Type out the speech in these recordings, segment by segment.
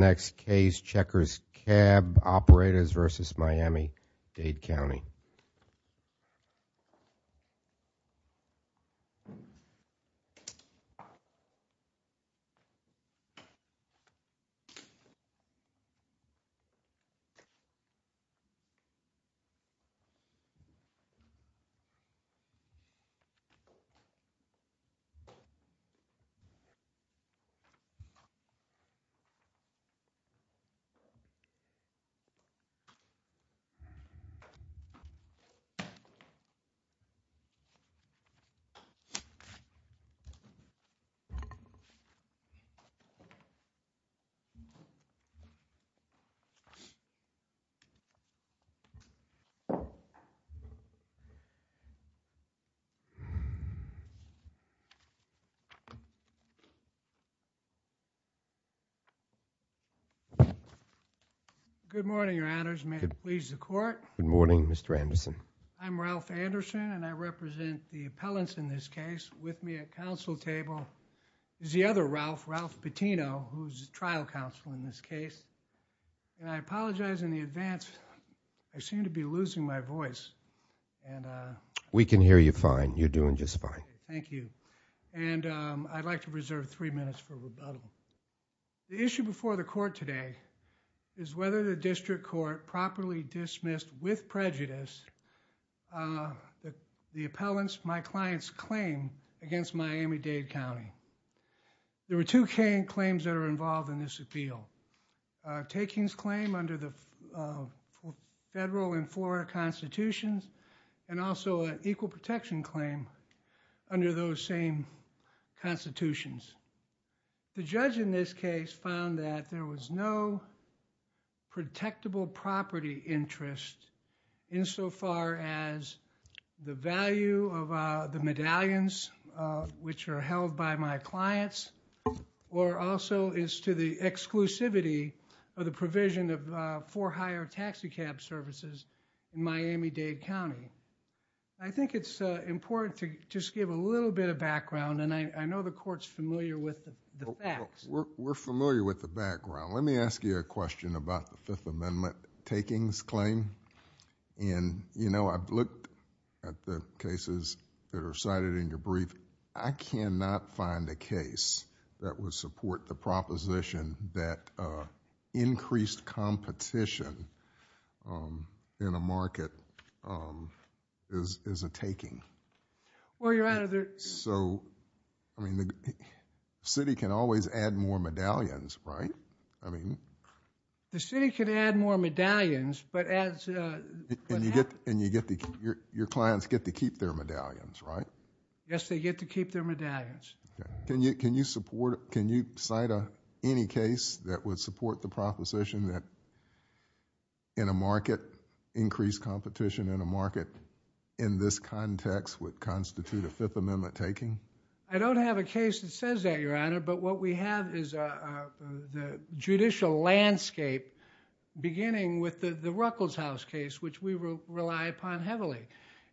Next case, CHECKERS CAB OPERATORS, versus MIAMI-DADE COUNTY. Next case, CHECKERS CAB OPERATORS, versus MIAMI-DADE COUNTY. Good morning, Your Honors. May it please the Court? Good morning, Mr. Anderson. I'm Ralph Anderson, and I represent the appellants in this case. With me at counsel table is the other Ralph, Ralph Patino, who's trial counsel in this case. And I apologize in advance. I seem to be losing my voice. We can hear you fine. You're doing just fine. The issue before the Court today is whether the District Court properly dismissed, with prejudice, the appellants, my client's claim against MIAMI-DADE COUNTY. There were two claims that are involved in this appeal. A takings claim under the federal and Florida constitutions, and also an equal protection claim under those same constitutions. The judge in this case found that there was no protectable property interest insofar as the value of the medallions, which are held by my clients, or also as to the exclusivity of the provision of for hire taxi cab services in MIAMI-DADE COUNTY. I think it's important to just give a little bit of background, and I know the Court's familiar with the facts. We're familiar with the background. Let me ask you a question about the Fifth Amendment takings claim. I've looked at the cases that are cited in your brief. I cannot find a case that would support the proposition that increased competition in a market is a taking. The city can always add more medallions, right? The city can add more medallions, but as... Your clients get to keep their medallions, right? Yes, they get to keep their medallions. Can you cite any case that would support the proposition that in a market, increased competition in a market in this context would constitute a Fifth Amendment taking? I don't have a case that says that, Your Honor, but what we have is the judicial landscape beginning with the Ruckelshaus case, which we rely upon heavily.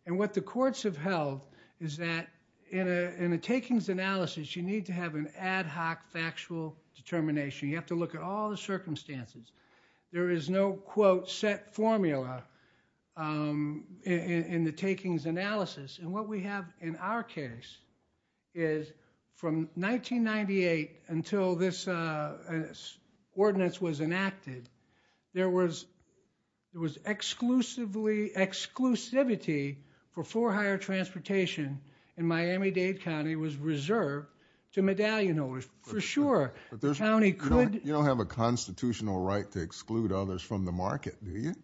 What the courts have held is that in a takings analysis, you need to have an ad hoc factual determination. You have to look at all the circumstances. There is no, quote, set formula in the takings analysis, and what we have in our case is from 1998 until this ordinance was enacted, there was exclusivity for for hire transportation in Miami-Dade County was reserved to medallion holders, for sure. You don't have a constitutional right to exclude others from the market, do you?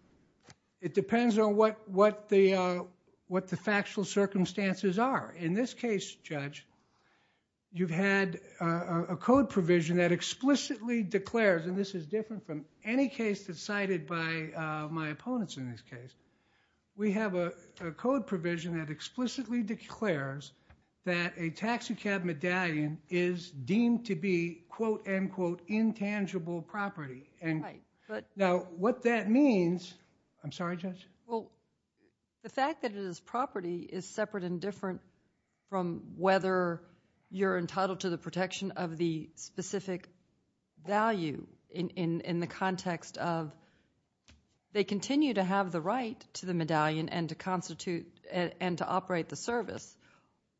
It depends on what the factual circumstances are. In this case, Judge, you've had a code provision that explicitly declares, and this is different from any case that's cited by my opponents in this case. We have a code provision that explicitly declares that a taxicab medallion is deemed to be, quote, unquote, intangible property. Now, what that means, I'm sorry, Judge? The fact that it is property is separate and different from whether you're entitled to the protection of the specific value in the context of they continue to have the right to the medallion and to operate the service.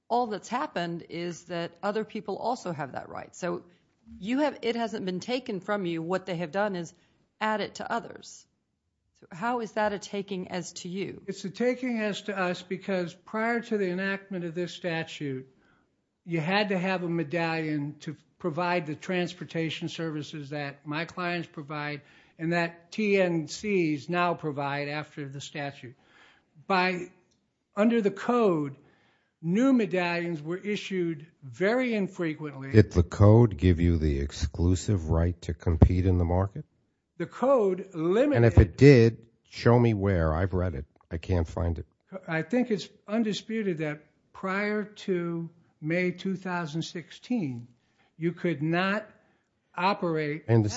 All that's happened is that other people also have that right. So it hasn't been taken from you. What they have done is add it to others. How is that a taking as to you? It's a taking as to us because prior to the enactment of this statute, you had to have a medallion to provide the transportation services that my clients provide and that TNCs now provide after the statute. Under the code, new medallions were issued very infrequently. Did the code give you the exclusive right to compete in the market? The code limited. And if it did, show me where. I've read it. I can't find it. I think it's undisputed that prior to May 2016, you could not operate. Well, the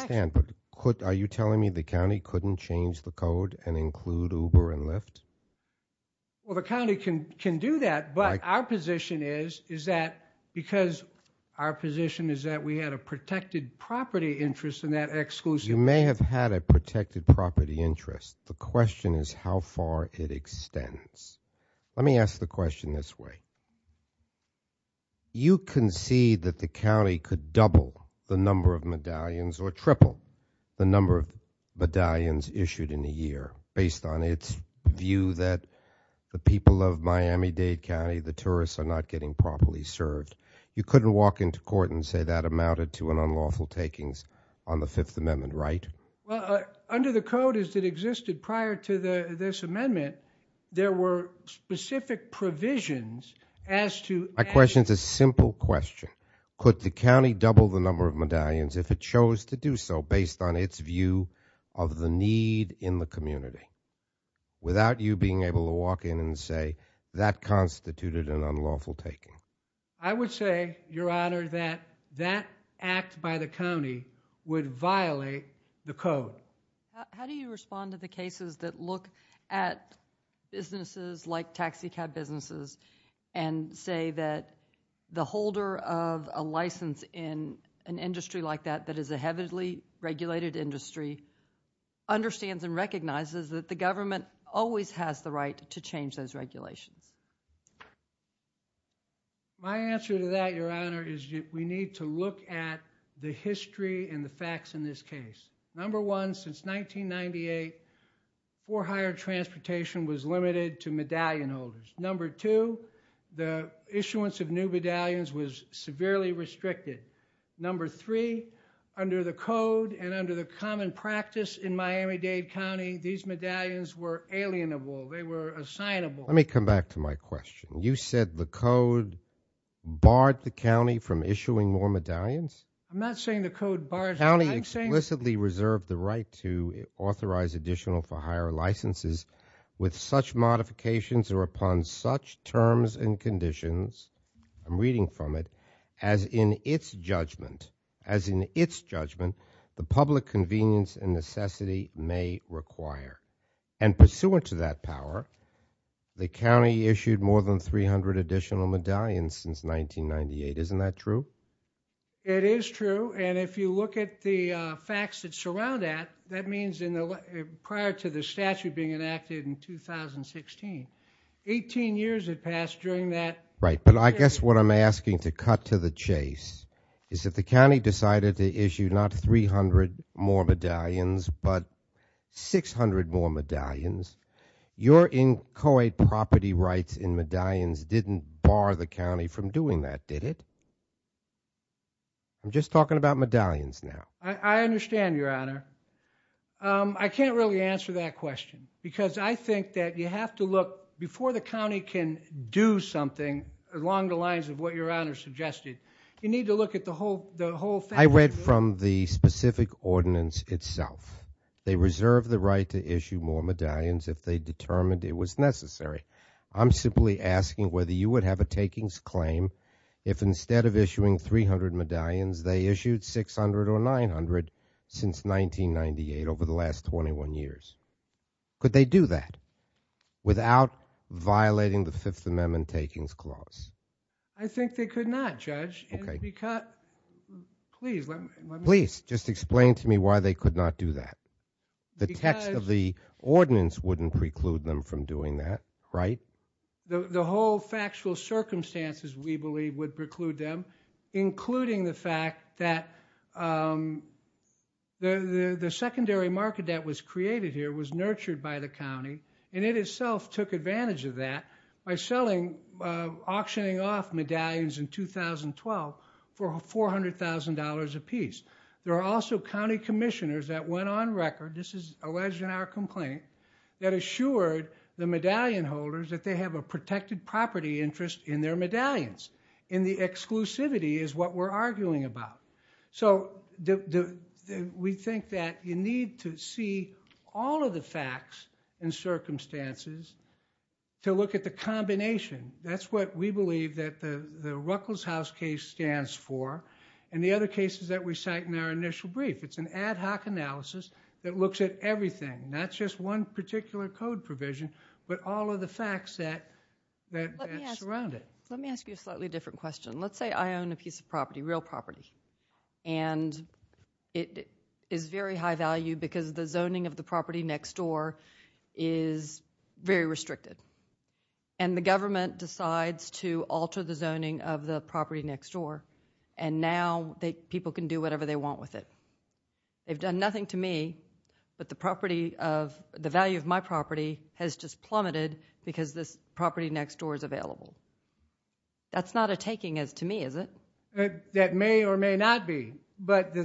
county can do that. But our position is that because our position is that we had a protected property interest in that exclusive. You may have had a protected property interest. The question is how far it extends. Let me ask the question this way. You concede that the county could double the number of medallions or triple the number of medallions issued in a year based on its view that the people of Miami-Dade County, the tourists, are not getting properly served. You couldn't walk into court and say that amounted to an unlawful takings on the Fifth Amendment, right? Well, under the code as it existed prior to this amendment, there were specific provisions as to. Could the county double the number of medallions if it chose to do so based on its view of the need in the community? Without you being able to walk in and say that constituted an unlawful taking. I would say, Your Honor, that that act by the county would violate the code. How do you respond to the cases that look at businesses like taxicab businesses and say that the holder of a license in an industry like that that is a heavily regulated industry understands and recognizes that the government always has the right to change those regulations? My answer to that, Your Honor, is we need to look at the history and the facts in this case. Number one, since 1998, for hire transportation was limited to medallion holders. Number two, the issuance of new medallions was severely restricted. Number three, under the code and under the common practice in Miami-Dade County, these medallions were alienable. They were assignable. Let me come back to my question. You said the code barred the county from issuing more medallions? I'm not saying the code barred it. The county explicitly reserved the right to authorize additional for hire licenses with such modifications or upon such terms and conditions. I'm reading from it. As in its judgment, as in its judgment, the public convenience and necessity may require. And pursuant to that power, the county issued more than 300 additional medallions since 1998. Isn't that true? It is true. And if you look at the facts that surround that, that means prior to the statute being enacted in 2016, 18 years had passed during that. Right, but I guess what I'm asking to cut to the chase is that the county decided to issue not 300 more medallions, but 600 more medallions. Your inchoate property rights in medallions didn't bar the county from doing that, did it? I'm just talking about medallions now. I understand, Your Honor. I can't really answer that question because I think that you have to look, before the county can do something along the lines of what Your Honor suggested, you need to look at the whole thing. I read from the specific ordinance itself. They reserved the right to issue more medallions if they determined it was necessary. I'm simply asking whether you would have a takings claim if instead of issuing 300 medallions, they issued 600 or 900 since 1998 over the last 21 years. Could they do that without violating the Fifth Amendment takings clause? I think they could not, Judge. Please, just explain to me why they could not do that. The text of the ordinance wouldn't preclude them from doing that, right? The whole factual circumstances, we believe, would preclude them, including the fact that the secondary market that was created here was nurtured by the county and it itself took advantage of that by auctioning off medallions in 2012 for $400,000 apiece. There are also county commissioners that went on record, this is alleged in our complaint, that assured the medallion holders that they have a protected property interest in their medallions and the exclusivity is what we're arguing about. We think that you need to see all of the facts and circumstances to look at the combination. That's what we believe that the Ruckelshaus case stands for and the other cases that we cite in our initial brief. It's an ad hoc analysis that looks at everything, not just one particular code provision, but all of the facts that surround it. Let me ask you a slightly different question. Let's say I own a piece of property, real property, and it is very high value because the zoning of the property next door is very restricted and the government decides to alter the zoning of the property next door and now people can do whatever they want with it. They've done nothing to me, but the value of my property has just plummeted because this property next door is available. That's not a taking to me, is it? That may or may not be, but the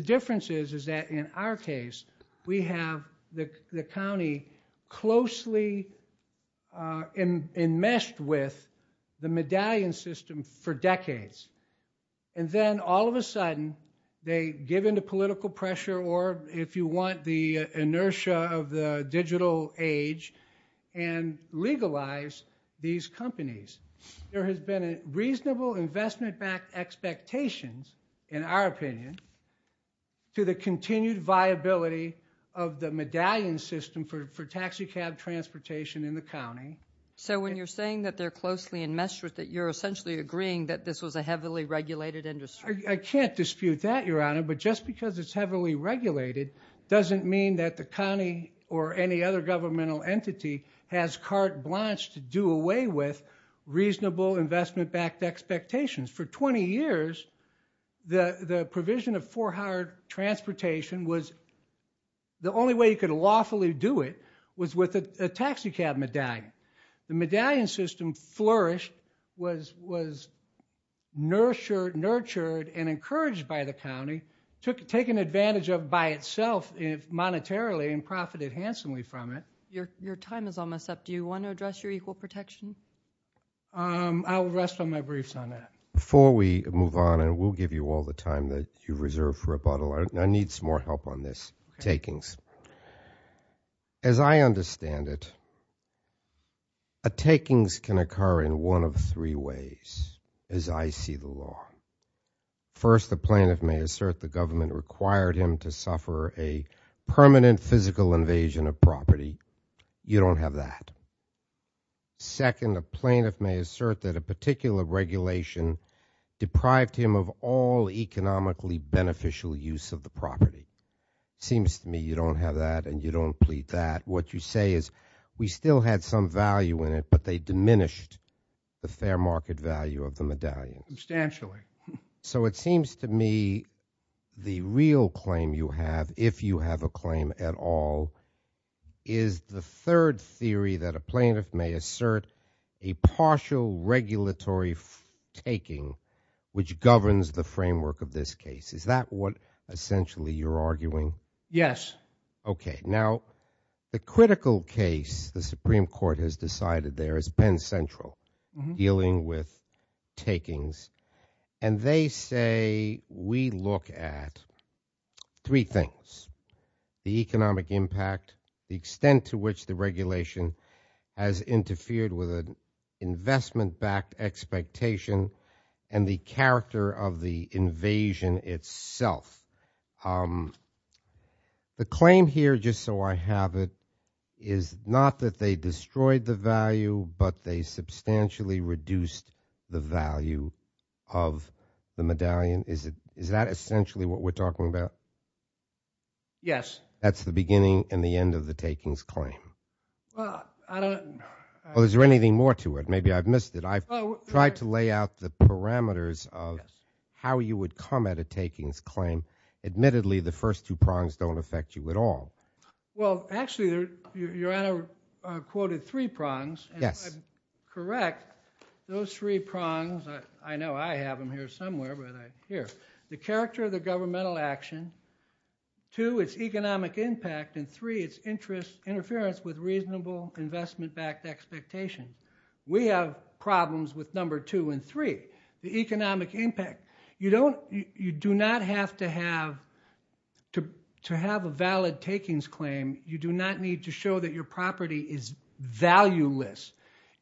difference is that in our case, we have the county closely enmeshed with the medallion system for decades and then all of a sudden they give in to political pressure or, if you want, the inertia of the digital age and legalize these companies. There has been reasonable investment-backed expectations, in our opinion, to the continued viability of the medallion system for taxicab transportation in the county. So when you're saying that they're closely enmeshed with it, you're essentially agreeing that this was a heavily regulated industry? I can't dispute that, Your Honor, but just because it's heavily regulated doesn't mean that the county or any other governmental entity has carte blanche to do away with reasonable investment-backed expectations. For 20 years, the provision of four-hour transportation was— the only way you could lawfully do it was with a taxicab medallion. The medallion system flourished, was nurtured and encouraged by the county, taken advantage of by itself monetarily and profited handsomely from it. Your time is almost up. Do you want to address your equal protection? I will rest on my briefs on that. Before we move on, and we'll give you all the time that you've reserved for rebuttal, I need some more help on this, takings. As I understand it, takings can occur in one of three ways, as I see the law. First, the plaintiff may assert the government required him to suffer a permanent physical invasion of property. You don't have that. Second, a plaintiff may assert that a particular regulation deprived him of all economically beneficial use of the property. Seems to me you don't have that and you don't plead that. What you say is we still had some value in it, but they diminished the fair market value of the medallion. Substantially. So it seems to me the real claim you have, if you have a claim at all, is the third theory that a plaintiff may assert a partial regulatory taking which governs the framework of this case. Is that what essentially you're arguing? Yes. Okay. Now, the critical case the Supreme Court has decided there is Penn Central dealing with takings. And they say we look at three things, the economic impact, the extent to which the regulation has interfered with an investment-backed expectation, and the character of the invasion itself. The claim here, just so I have it, is not that they destroyed the value, but they substantially reduced the value of the medallion. Is that essentially what we're talking about? Yes. That's the beginning and the end of the takings claim. Well, I don't know. Well, is there anything more to it? Maybe I've missed it. I've tried to lay out the parameters of how you would come at a takings claim. Admittedly, the first two prongs don't affect you at all. Well, actually, Your Honor quoted three prongs. Yes. And if I'm correct, those three prongs, I know I have them here somewhere, but here, the character of the governmental action, two, its economic impact, and three, its interference with reasonable investment-backed expectation. We have problems with number two and three, the economic impact. You do not have to have a valid takings claim. You do not need to show that your property is valueless.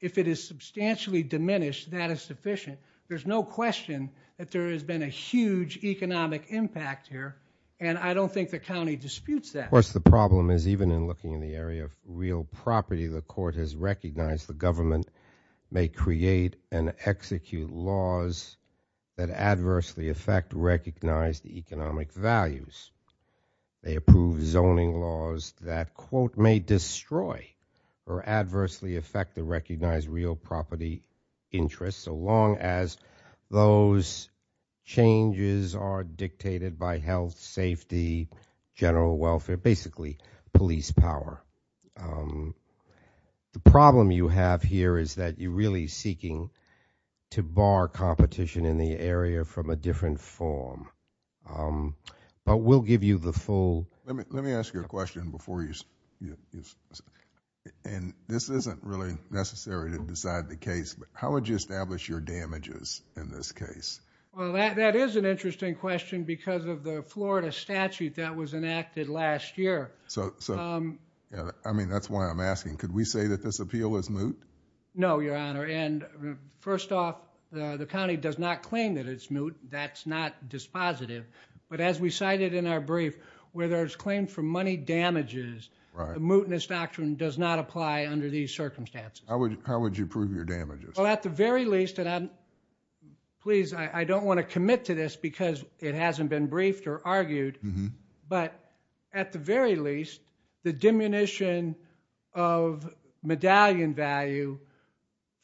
If it is substantially diminished, that is sufficient. There's no question that there has been a huge economic impact here, and I don't think the county disputes that. Of course, the problem is even in looking in the area of real property, the court has recognized the government may create and execute laws that adversely affect recognized economic values. They approve zoning laws that, quote, may destroy or adversely affect the recognized real property interest, so long as those changes are dictated by health, safety, general welfare, basically police power. The problem you have here is that you're really seeking to bar competition in the area from a different form, but we'll give you the full. Let me ask you a question before you. And this isn't really necessary to decide the case, but how would you establish your damages in this case? Well, that is an interesting question because of the Florida statute that was enacted last year. I mean, that's why I'm asking. Could we say that this appeal is moot? No, Your Honor, and first off, the county does not claim that it's moot. That's not dispositive, but as we cited in our brief, where there's claim for money damages, the mootness doctrine does not apply under these circumstances. How would you prove your damages? Well, at the very least, and please, I don't want to commit to this because it hasn't been briefed or argued, but at the very least, the diminution of medallion value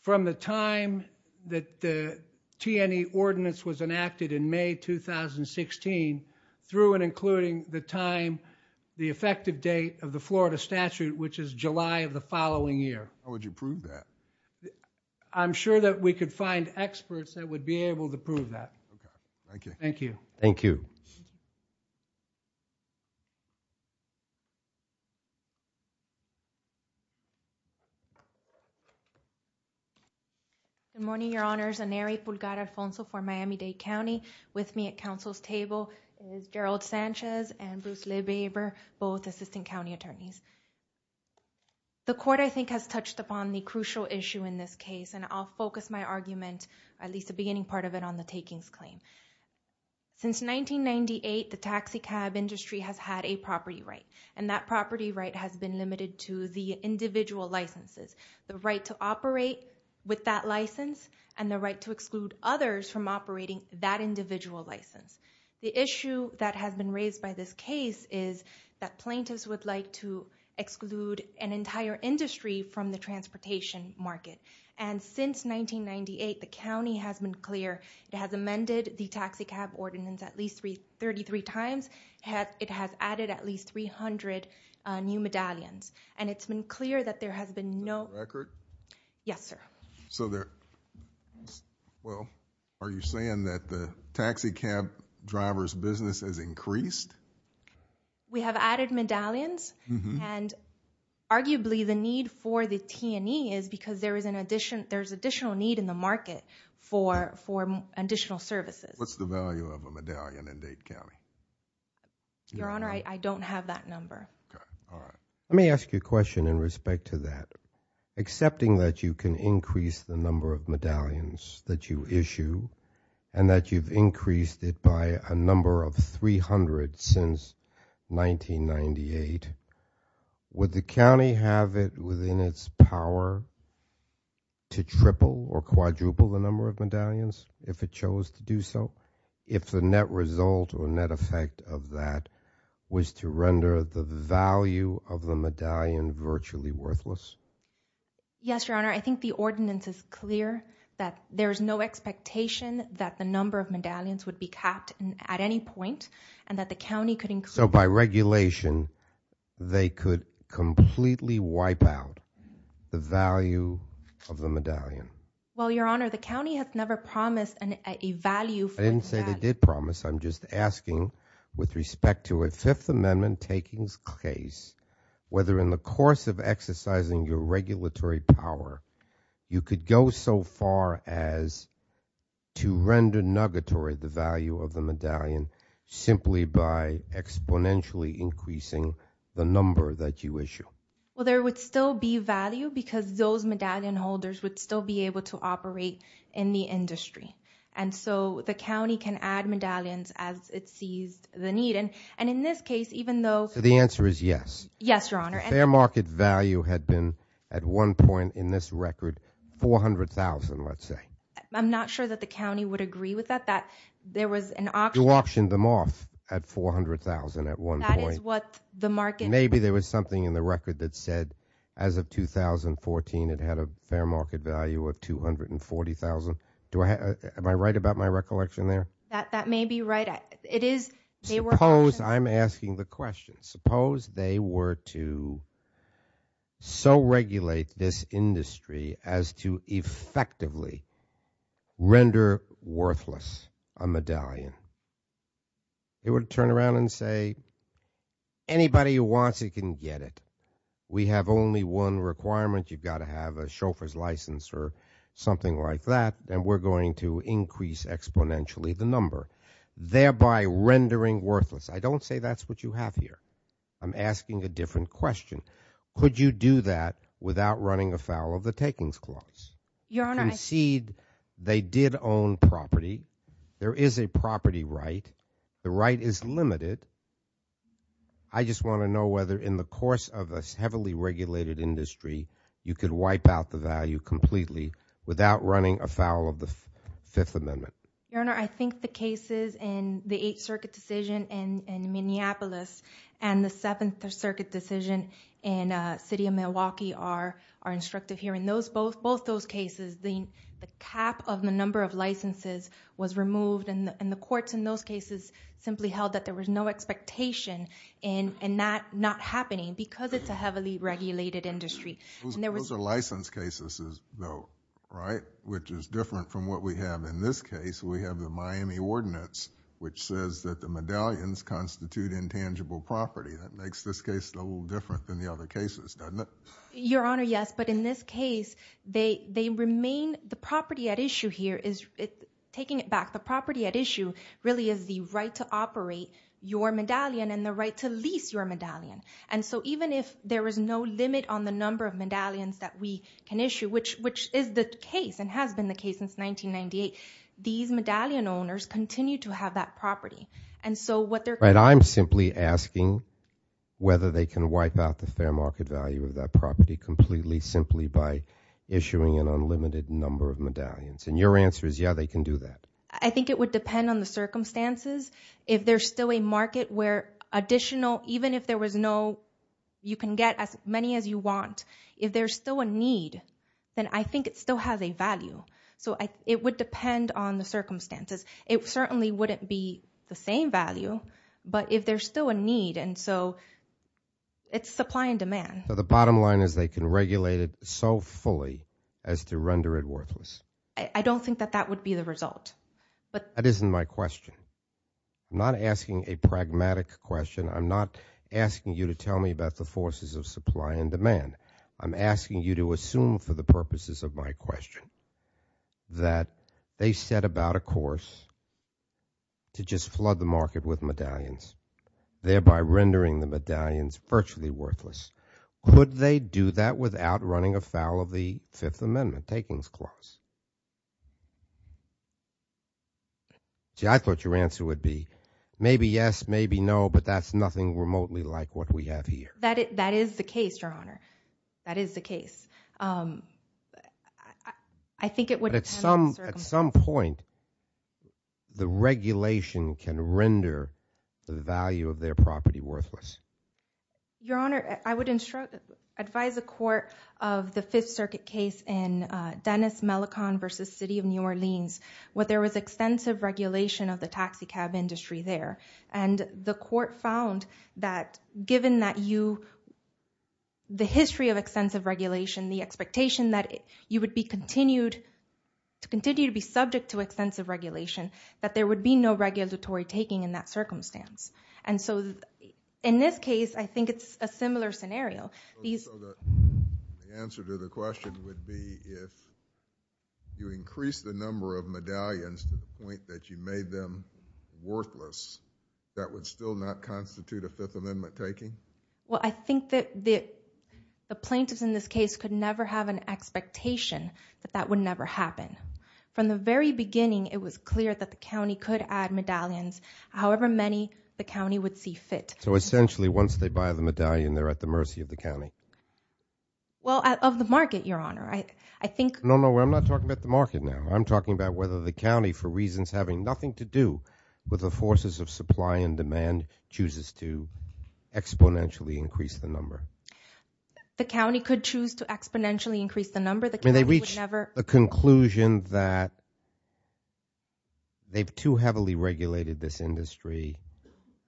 from the time that the T&E ordinance was enacted in May 2016 through and including the time, the effective date of the Florida statute, which is July of the following year. How would you prove that? I'm sure that we could find experts that would be able to prove that. Okay, thank you. Thank you. Thank you. Good morning, Your Honors. Aneri Pulgar-Alfonso for Miami-Dade County. With me at counsel's table is Gerald Sanchez and Bruce Lebeber, both assistant county attorneys. The court, I think, has touched upon the crucial issue in this case, and I'll focus my argument, at least the beginning part of it, on the takings claim. Since 1998, the taxicab industry has had a property right, and that property right has been limited to the individual licenses, the right to operate with that license and the right to exclude others from operating that individual license. The issue that has been raised by this case is that plaintiffs would like to exclude an entire industry from the transportation market, and since 1998, the county has been clear. It has amended the taxicab ordinance at least 33 times. It has added at least 300 new medallions, and it's been clear that there has been no... Record? Yes, sir. So there... Well, are you saying that the taxicab driver's business has increased? We have added medallions, and arguably the need for the T&E is because there's additional need in the market for additional services. What's the value of a medallion in Dade County? Your Honor, I don't have that number. All right. Let me ask you a question in respect to that. Accepting that you can increase the number of medallions that you issue and that you've increased it by a number of 300 since 1998, would the county have it within its power to triple or quadruple the number of medallions if it chose to do so if the net result or net effect of that was to render the value of the medallion virtually worthless? Yes, Your Honor. I think the ordinance is clear that there's no expectation that the number of medallions would be capped at any point and that the county could... So by regulation, they could completely wipe out the value of the medallion? Well, Your Honor, the county has never promised a value for its medallion. I didn't say they did promise. I'm just asking with respect to a Fifth Amendment takings case whether in the course of exercising your regulatory power, you could go so far as to render nugatory the value of the medallion simply by exponentially increasing the number that you issue. Well, there would still be value because those medallion holders would still be able to operate in the industry. And so the county can add medallions as it sees the need. And in this case, even though... The answer is yes. Yes, Your Honor. The fair market value had been at one point in this record $400,000, let's say. I'm not sure that the county would agree with that, that there was an auction... You auctioned them off at $400,000 at one point. That is what the market... Maybe there was something in the record that said as of 2014 it had a fair market value of $240,000. Am I right about my recollection there? That may be right. Suppose I'm asking the question. Suppose they were to so regulate this industry as to effectively render worthless a medallion. They would turn around and say, anybody who wants it can get it. We have only one requirement. You've got to have a chauffeur's license or something like that, and we're going to increase exponentially the number, thereby rendering worthless. I don't say that's what you have here. I'm asking a different question. Could you do that without running afoul of the takings clause? Your Honor, I... Concede they did own property. There is a property right. The right is limited. I just want to know whether in the course of a heavily regulated industry you could wipe out the value completely without running afoul of the Fifth Amendment. Your Honor, I think the cases in the Eighth Circuit decision in Minneapolis and the Seventh Circuit decision in the city of Milwaukee are instructive here. In both those cases, the cap of the number of licenses was removed, and the courts in those cases simply held that there was no expectation in that not happening because it's a heavily regulated industry. Those are license cases, though, right, which is different from what we have in this case. We have the Miami Ordinance, which says that the medallions constitute intangible property. That makes this case a little different than the other cases, doesn't it? Your Honor, yes, but in this case, they remain... the property at issue here is... taking it back, the property at issue really is the right to operate your medallion and the right to lease your medallion. And so even if there is no limit on the number of medallions that we can issue, which is the case and has been the case since 1998, these medallion owners continue to have that property. And so what they're... But I'm simply asking whether they can wipe out the fair market value of that property completely simply by issuing an unlimited number of medallions. And your answer is, yeah, they can do that. I think it would depend on the circumstances. If there's still a market where additional... even if there was no... you can get as many as you want. If there's still a need, then I think it still has a value. So it would depend on the circumstances. It certainly wouldn't be the same value, but if there's still a need... And so it's supply and demand. So the bottom line is they can regulate it so fully as to render it worthless. I don't think that that would be the result. That isn't my question. I'm not asking a pragmatic question. I'm not asking you to tell me about the forces of supply and demand. I'm asking you to assume for the purposes of my question that they set about a course to just flood the market with medallions, thereby rendering the medallions virtually worthless. Could they do that without running afoul of the Fifth Amendment takings clause? See, I thought your answer would be maybe yes, maybe no, but that's nothing remotely like what we have here. That is the case, Your Honor. That is the case. I think it would depend on the circumstances. But at some point, the regulation can render the value of their property worthless. Your Honor, I would advise the court of the Fifth Circuit case in Dennis Mellicon v. City of New Orleans where there was extensive regulation of the taxicab industry there. And the court found that given the history of extensive regulation, the expectation that you would continue to be subject to extensive regulation, that there would be no regulatory taking in that circumstance. And so in this case, I think it's a similar scenario. So the answer to the question would be if you increase the number of medallions to the point that you made them worthless, that would still not constitute a Fifth Amendment taking? Well, I think that the plaintiffs in this case could never have an expectation that that would never happen. From the very beginning, it was clear that the county could add medallions however many the county would see fit. So essentially, once they buy the medallion, they're at the mercy of the county? Well, of the market, Your Honor. No, no, I'm not talking about the market now. I'm talking about whether the county, for reasons having nothing to do with the forces of supply and demand, chooses to exponentially increase the number. The county could choose to exponentially increase the number. I mean, they reached the conclusion that they've too heavily regulated this industry.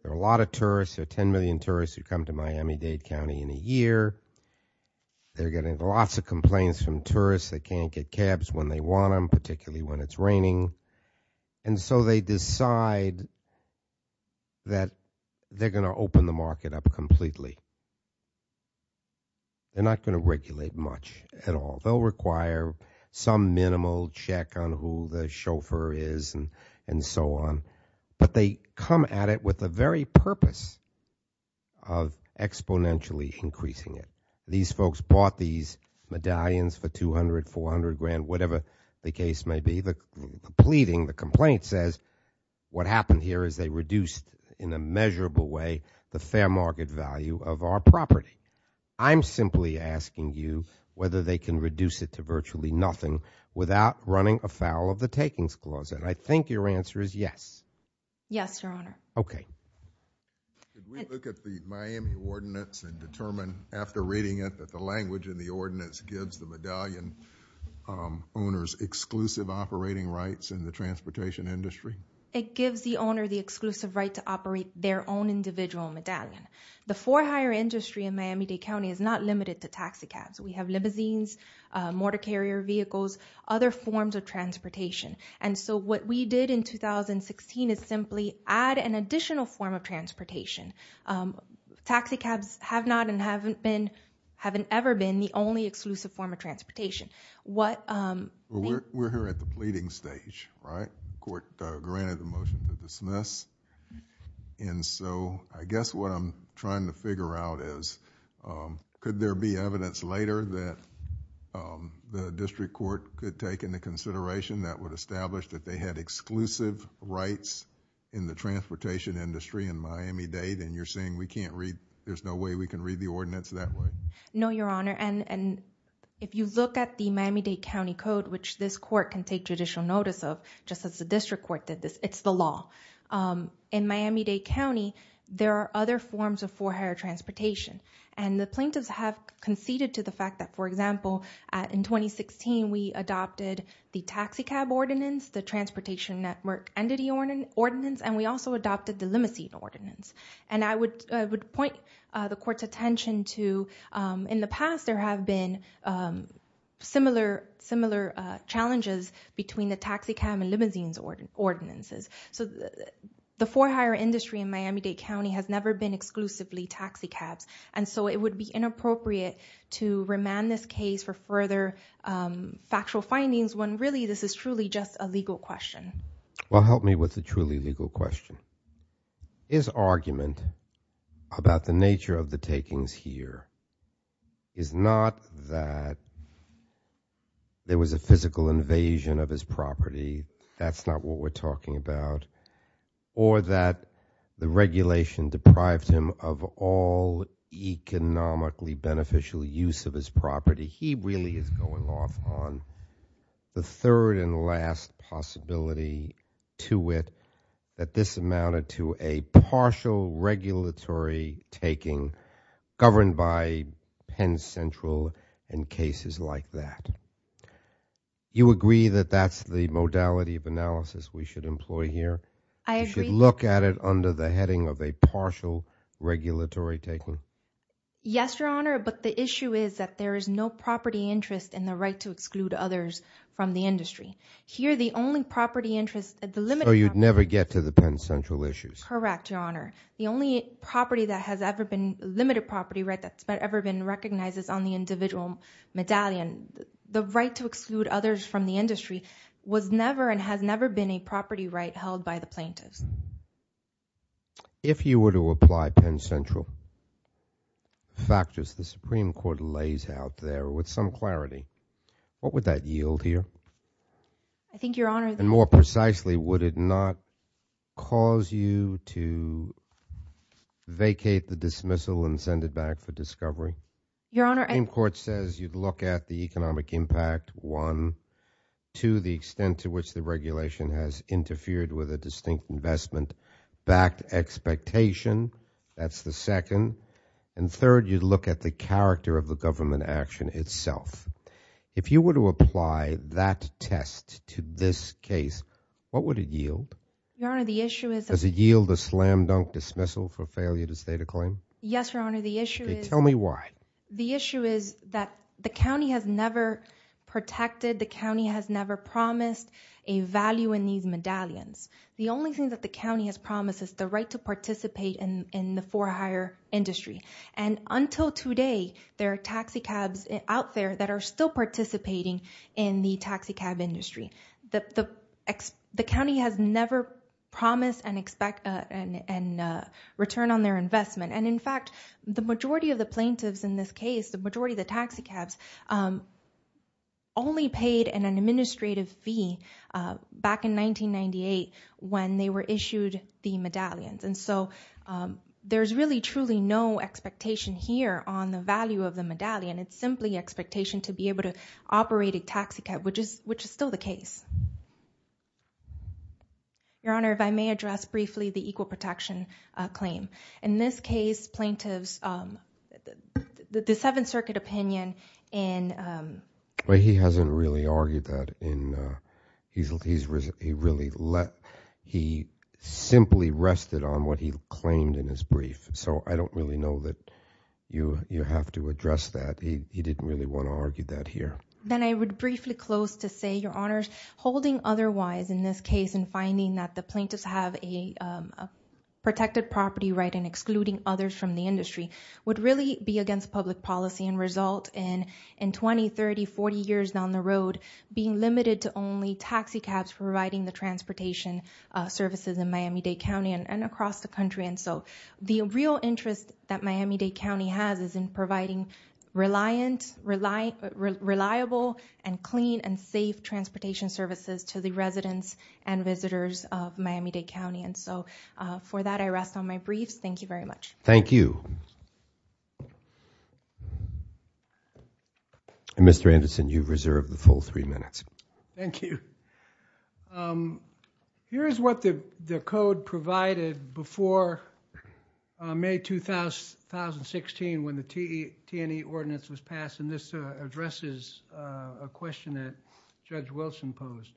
There are a lot of tourists. There are 10 million tourists who come to Miami-Dade County in a year. They're getting lots of complaints from tourists. They can't get cabs when they want them, particularly when it's raining. And so they decide that they're going to open the market up completely. They're not going to regulate much at all. They'll require some minimal check on who the chauffeur is and so on. But they come at it with the very purpose of exponentially increasing it. These folks bought these medallions for $200,000, $400,000, whatever the case may be. The pleading, the complaint says what happened here is they reduced in a measurable way the fair market value of our property. I'm simply asking you whether they can reduce it to virtually nothing without running afoul of the takings clause, and I think your answer is yes. Yes, Your Honor. Okay. Did we look at the Miami ordinance and determine after reading it that the language in the ordinance gives the medallion owners exclusive operating rights in the transportation industry? It gives the owner the exclusive right to operate their own individual medallion. The for hire industry in Miami-Dade County is not limited to taxi cabs. We have limousines, motor carrier vehicles, other forms of transportation. And so what we did in 2016 is simply add an additional form of transportation. Taxi cabs have not and haven't ever been the only exclusive form of transportation. We're here at the pleading stage, right? The court granted the motion to dismiss. And so I guess what I'm trying to figure out is could there be evidence later that the district court could take into consideration that would establish that they had exclusive rights in the transportation industry in Miami-Dade and you're saying there's no way we can read the ordinance that way? No, Your Honor. And if you look at the Miami-Dade County Code, which this court can take judicial notice of, just as the district court did this, it's the law. In Miami-Dade County, there are other forms of for hire transportation. And the plaintiffs have conceded to the fact that, for example, in 2016, we adopted the taxi cab ordinance, the transportation network entity ordinance, and we also adopted the limousine ordinance. And I would point the court's attention to in the past, there have been similar challenges between the taxi cab and limousine ordinances. So the for hire industry in Miami-Dade County has never been exclusively taxi cabs. And so it would be inappropriate to remand this case for further factual findings when really this is truly just a legal question. Well, help me with the truly legal question. His argument about the nature of the takings here is not that there was a physical invasion of his property, that's not what we're talking about, or that the regulation deprived him of all economically beneficial use of his property. He really is going off on the third and last possibility to it that this amounted to a partial regulatory taking governed by Penn Central and cases like that. You agree that that's the modality of analysis we should employ here? I agree. You should look at it under the heading of a partial regulatory taking? Yes, Your Honor, but the issue is that there is no property interest and the right to exclude others from the industry. So you'd never get to the Penn Central issues? Correct, Your Honor. The only limited property right that's ever been recognized is on the individual medallion. The right to exclude others from the industry was never and has never been a property right held by the plaintiffs. If you were to apply Penn Central factors the Supreme Court lays out there with some clarity, what would that yield here? I think, Your Honor— And more precisely, would it not cause you to vacate the dismissal and send it back for discovery? Your Honor— The Supreme Court says you'd look at the economic impact, one. Two, the extent to which the regulation has interfered with a distinct investment-backed expectation. That's the second. And third, you'd look at the character of the government action itself. If you were to apply that test to this case, what would it yield? Your Honor, the issue is— Does it yield a slam-dunk dismissal for failure to state a claim? Yes, Your Honor, the issue is— Tell me why. The issue is that the county has never protected, the county has never promised a value in these medallions. The only thing that the county has promised is the right to participate in the for-hire industry. And until today, there are taxicabs out there that are still participating in the taxicab industry. The county has never promised a return on their investment. And in fact, the majority of the plaintiffs in this case, the majority of the taxicabs, only paid an administrative fee back in 1998 when they were issued the medallions. And so there's really truly no expectation here on the value of the medallion. It's simply expectation to be able to operate a taxicab, which is still the case. Your Honor, if I may address briefly the equal protection claim. In this case, plaintiffs—the Seventh Circuit opinion in— Well, he hasn't really argued that in—he really let—he simply rested on what he claimed in his brief. So I don't really know that you have to address that. He didn't really want to argue that here. Then I would briefly close to say, Your Honors, holding otherwise in this case and finding that the plaintiffs have a protected property right and excluding others from the industry would really be against public policy and result in, in 20, 30, 40 years down the road, being limited to only taxicabs providing the transportation services in Miami-Dade County and across the country. And so the real interest that Miami-Dade County has is in providing reliant— to the residents and visitors of Miami-Dade County. And so for that, I rest on my briefs. Thank you very much. Thank you. Mr. Anderson, you've reserved the full three minutes. Thank you. Here is what the code provided before May 2016 when the T&E ordinance was passed. And this addresses a question that Judge Wilson posed.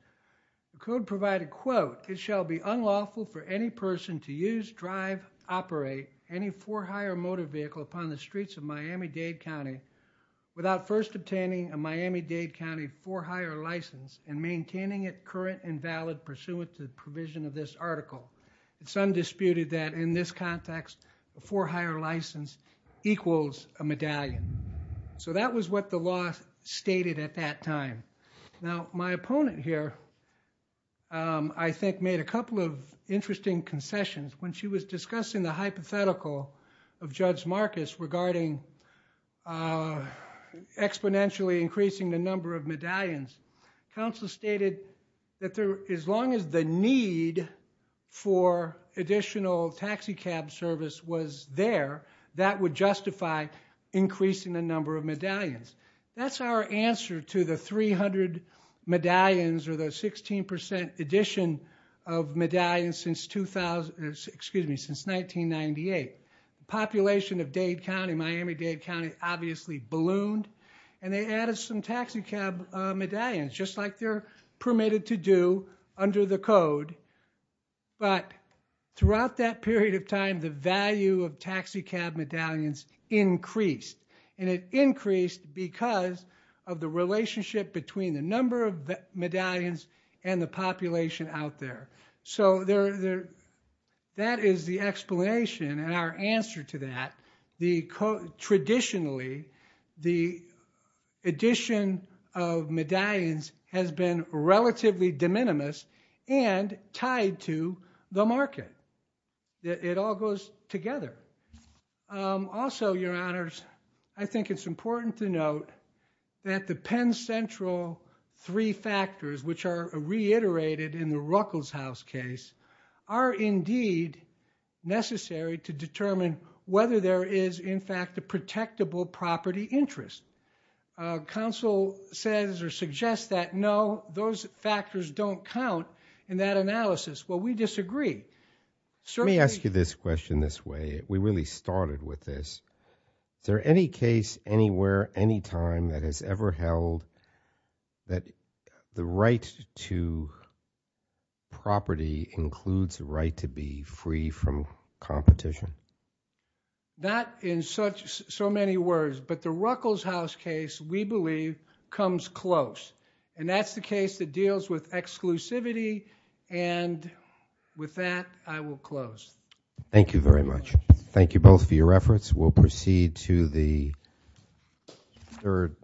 The code provided, quote, It shall be unlawful for any person to use, drive, operate any for hire motor vehicle upon the streets of Miami-Dade County without first obtaining a Miami-Dade County for hire license and maintaining it current and valid pursuant to the provision of this article. It's undisputed that in this context, a for hire license equals a medallion. So that was what the law stated at that time. Now, my opponent here, I think, made a couple of interesting concessions. When she was discussing the hypothetical of Judge Marcus regarding exponentially increasing the number of medallions, counsel stated that as long as the need for additional taxi cab service was there, that would justify increasing the number of medallions. That's our answer to the 300 medallions or the 16% addition of medallions since 1998. The population of Dade County, Miami-Dade County, obviously ballooned, and they added some taxi cab medallions, just like they're permitted to do under the code. But throughout that period of time, the value of taxi cab medallions increased. And it increased because of the relationship between the number of medallions and the population out there. So that is the explanation and our answer to that. Traditionally, the addition of medallions has been relatively de minimis and tied to the market. It all goes together. Also, Your Honors, I think it's important to note that the Penn Central three factors, which are reiterated in the Ruckelshaus case, are indeed necessary to determine whether there is, in fact, a protectable property interest. Counsel says or suggests that, no, those factors don't count in that analysis. Well, we disagree. Let me ask you this question this way. We really started with this. Is there any case anywhere, anytime, that has ever held that the right to property includes the right to be free from competition? Not in so many words. But the Ruckelshaus case, we believe, comes close. And that's the case that deals with exclusivity. And with that, I will close. Thank you very much. Thank you both for your efforts. We'll proceed to the third.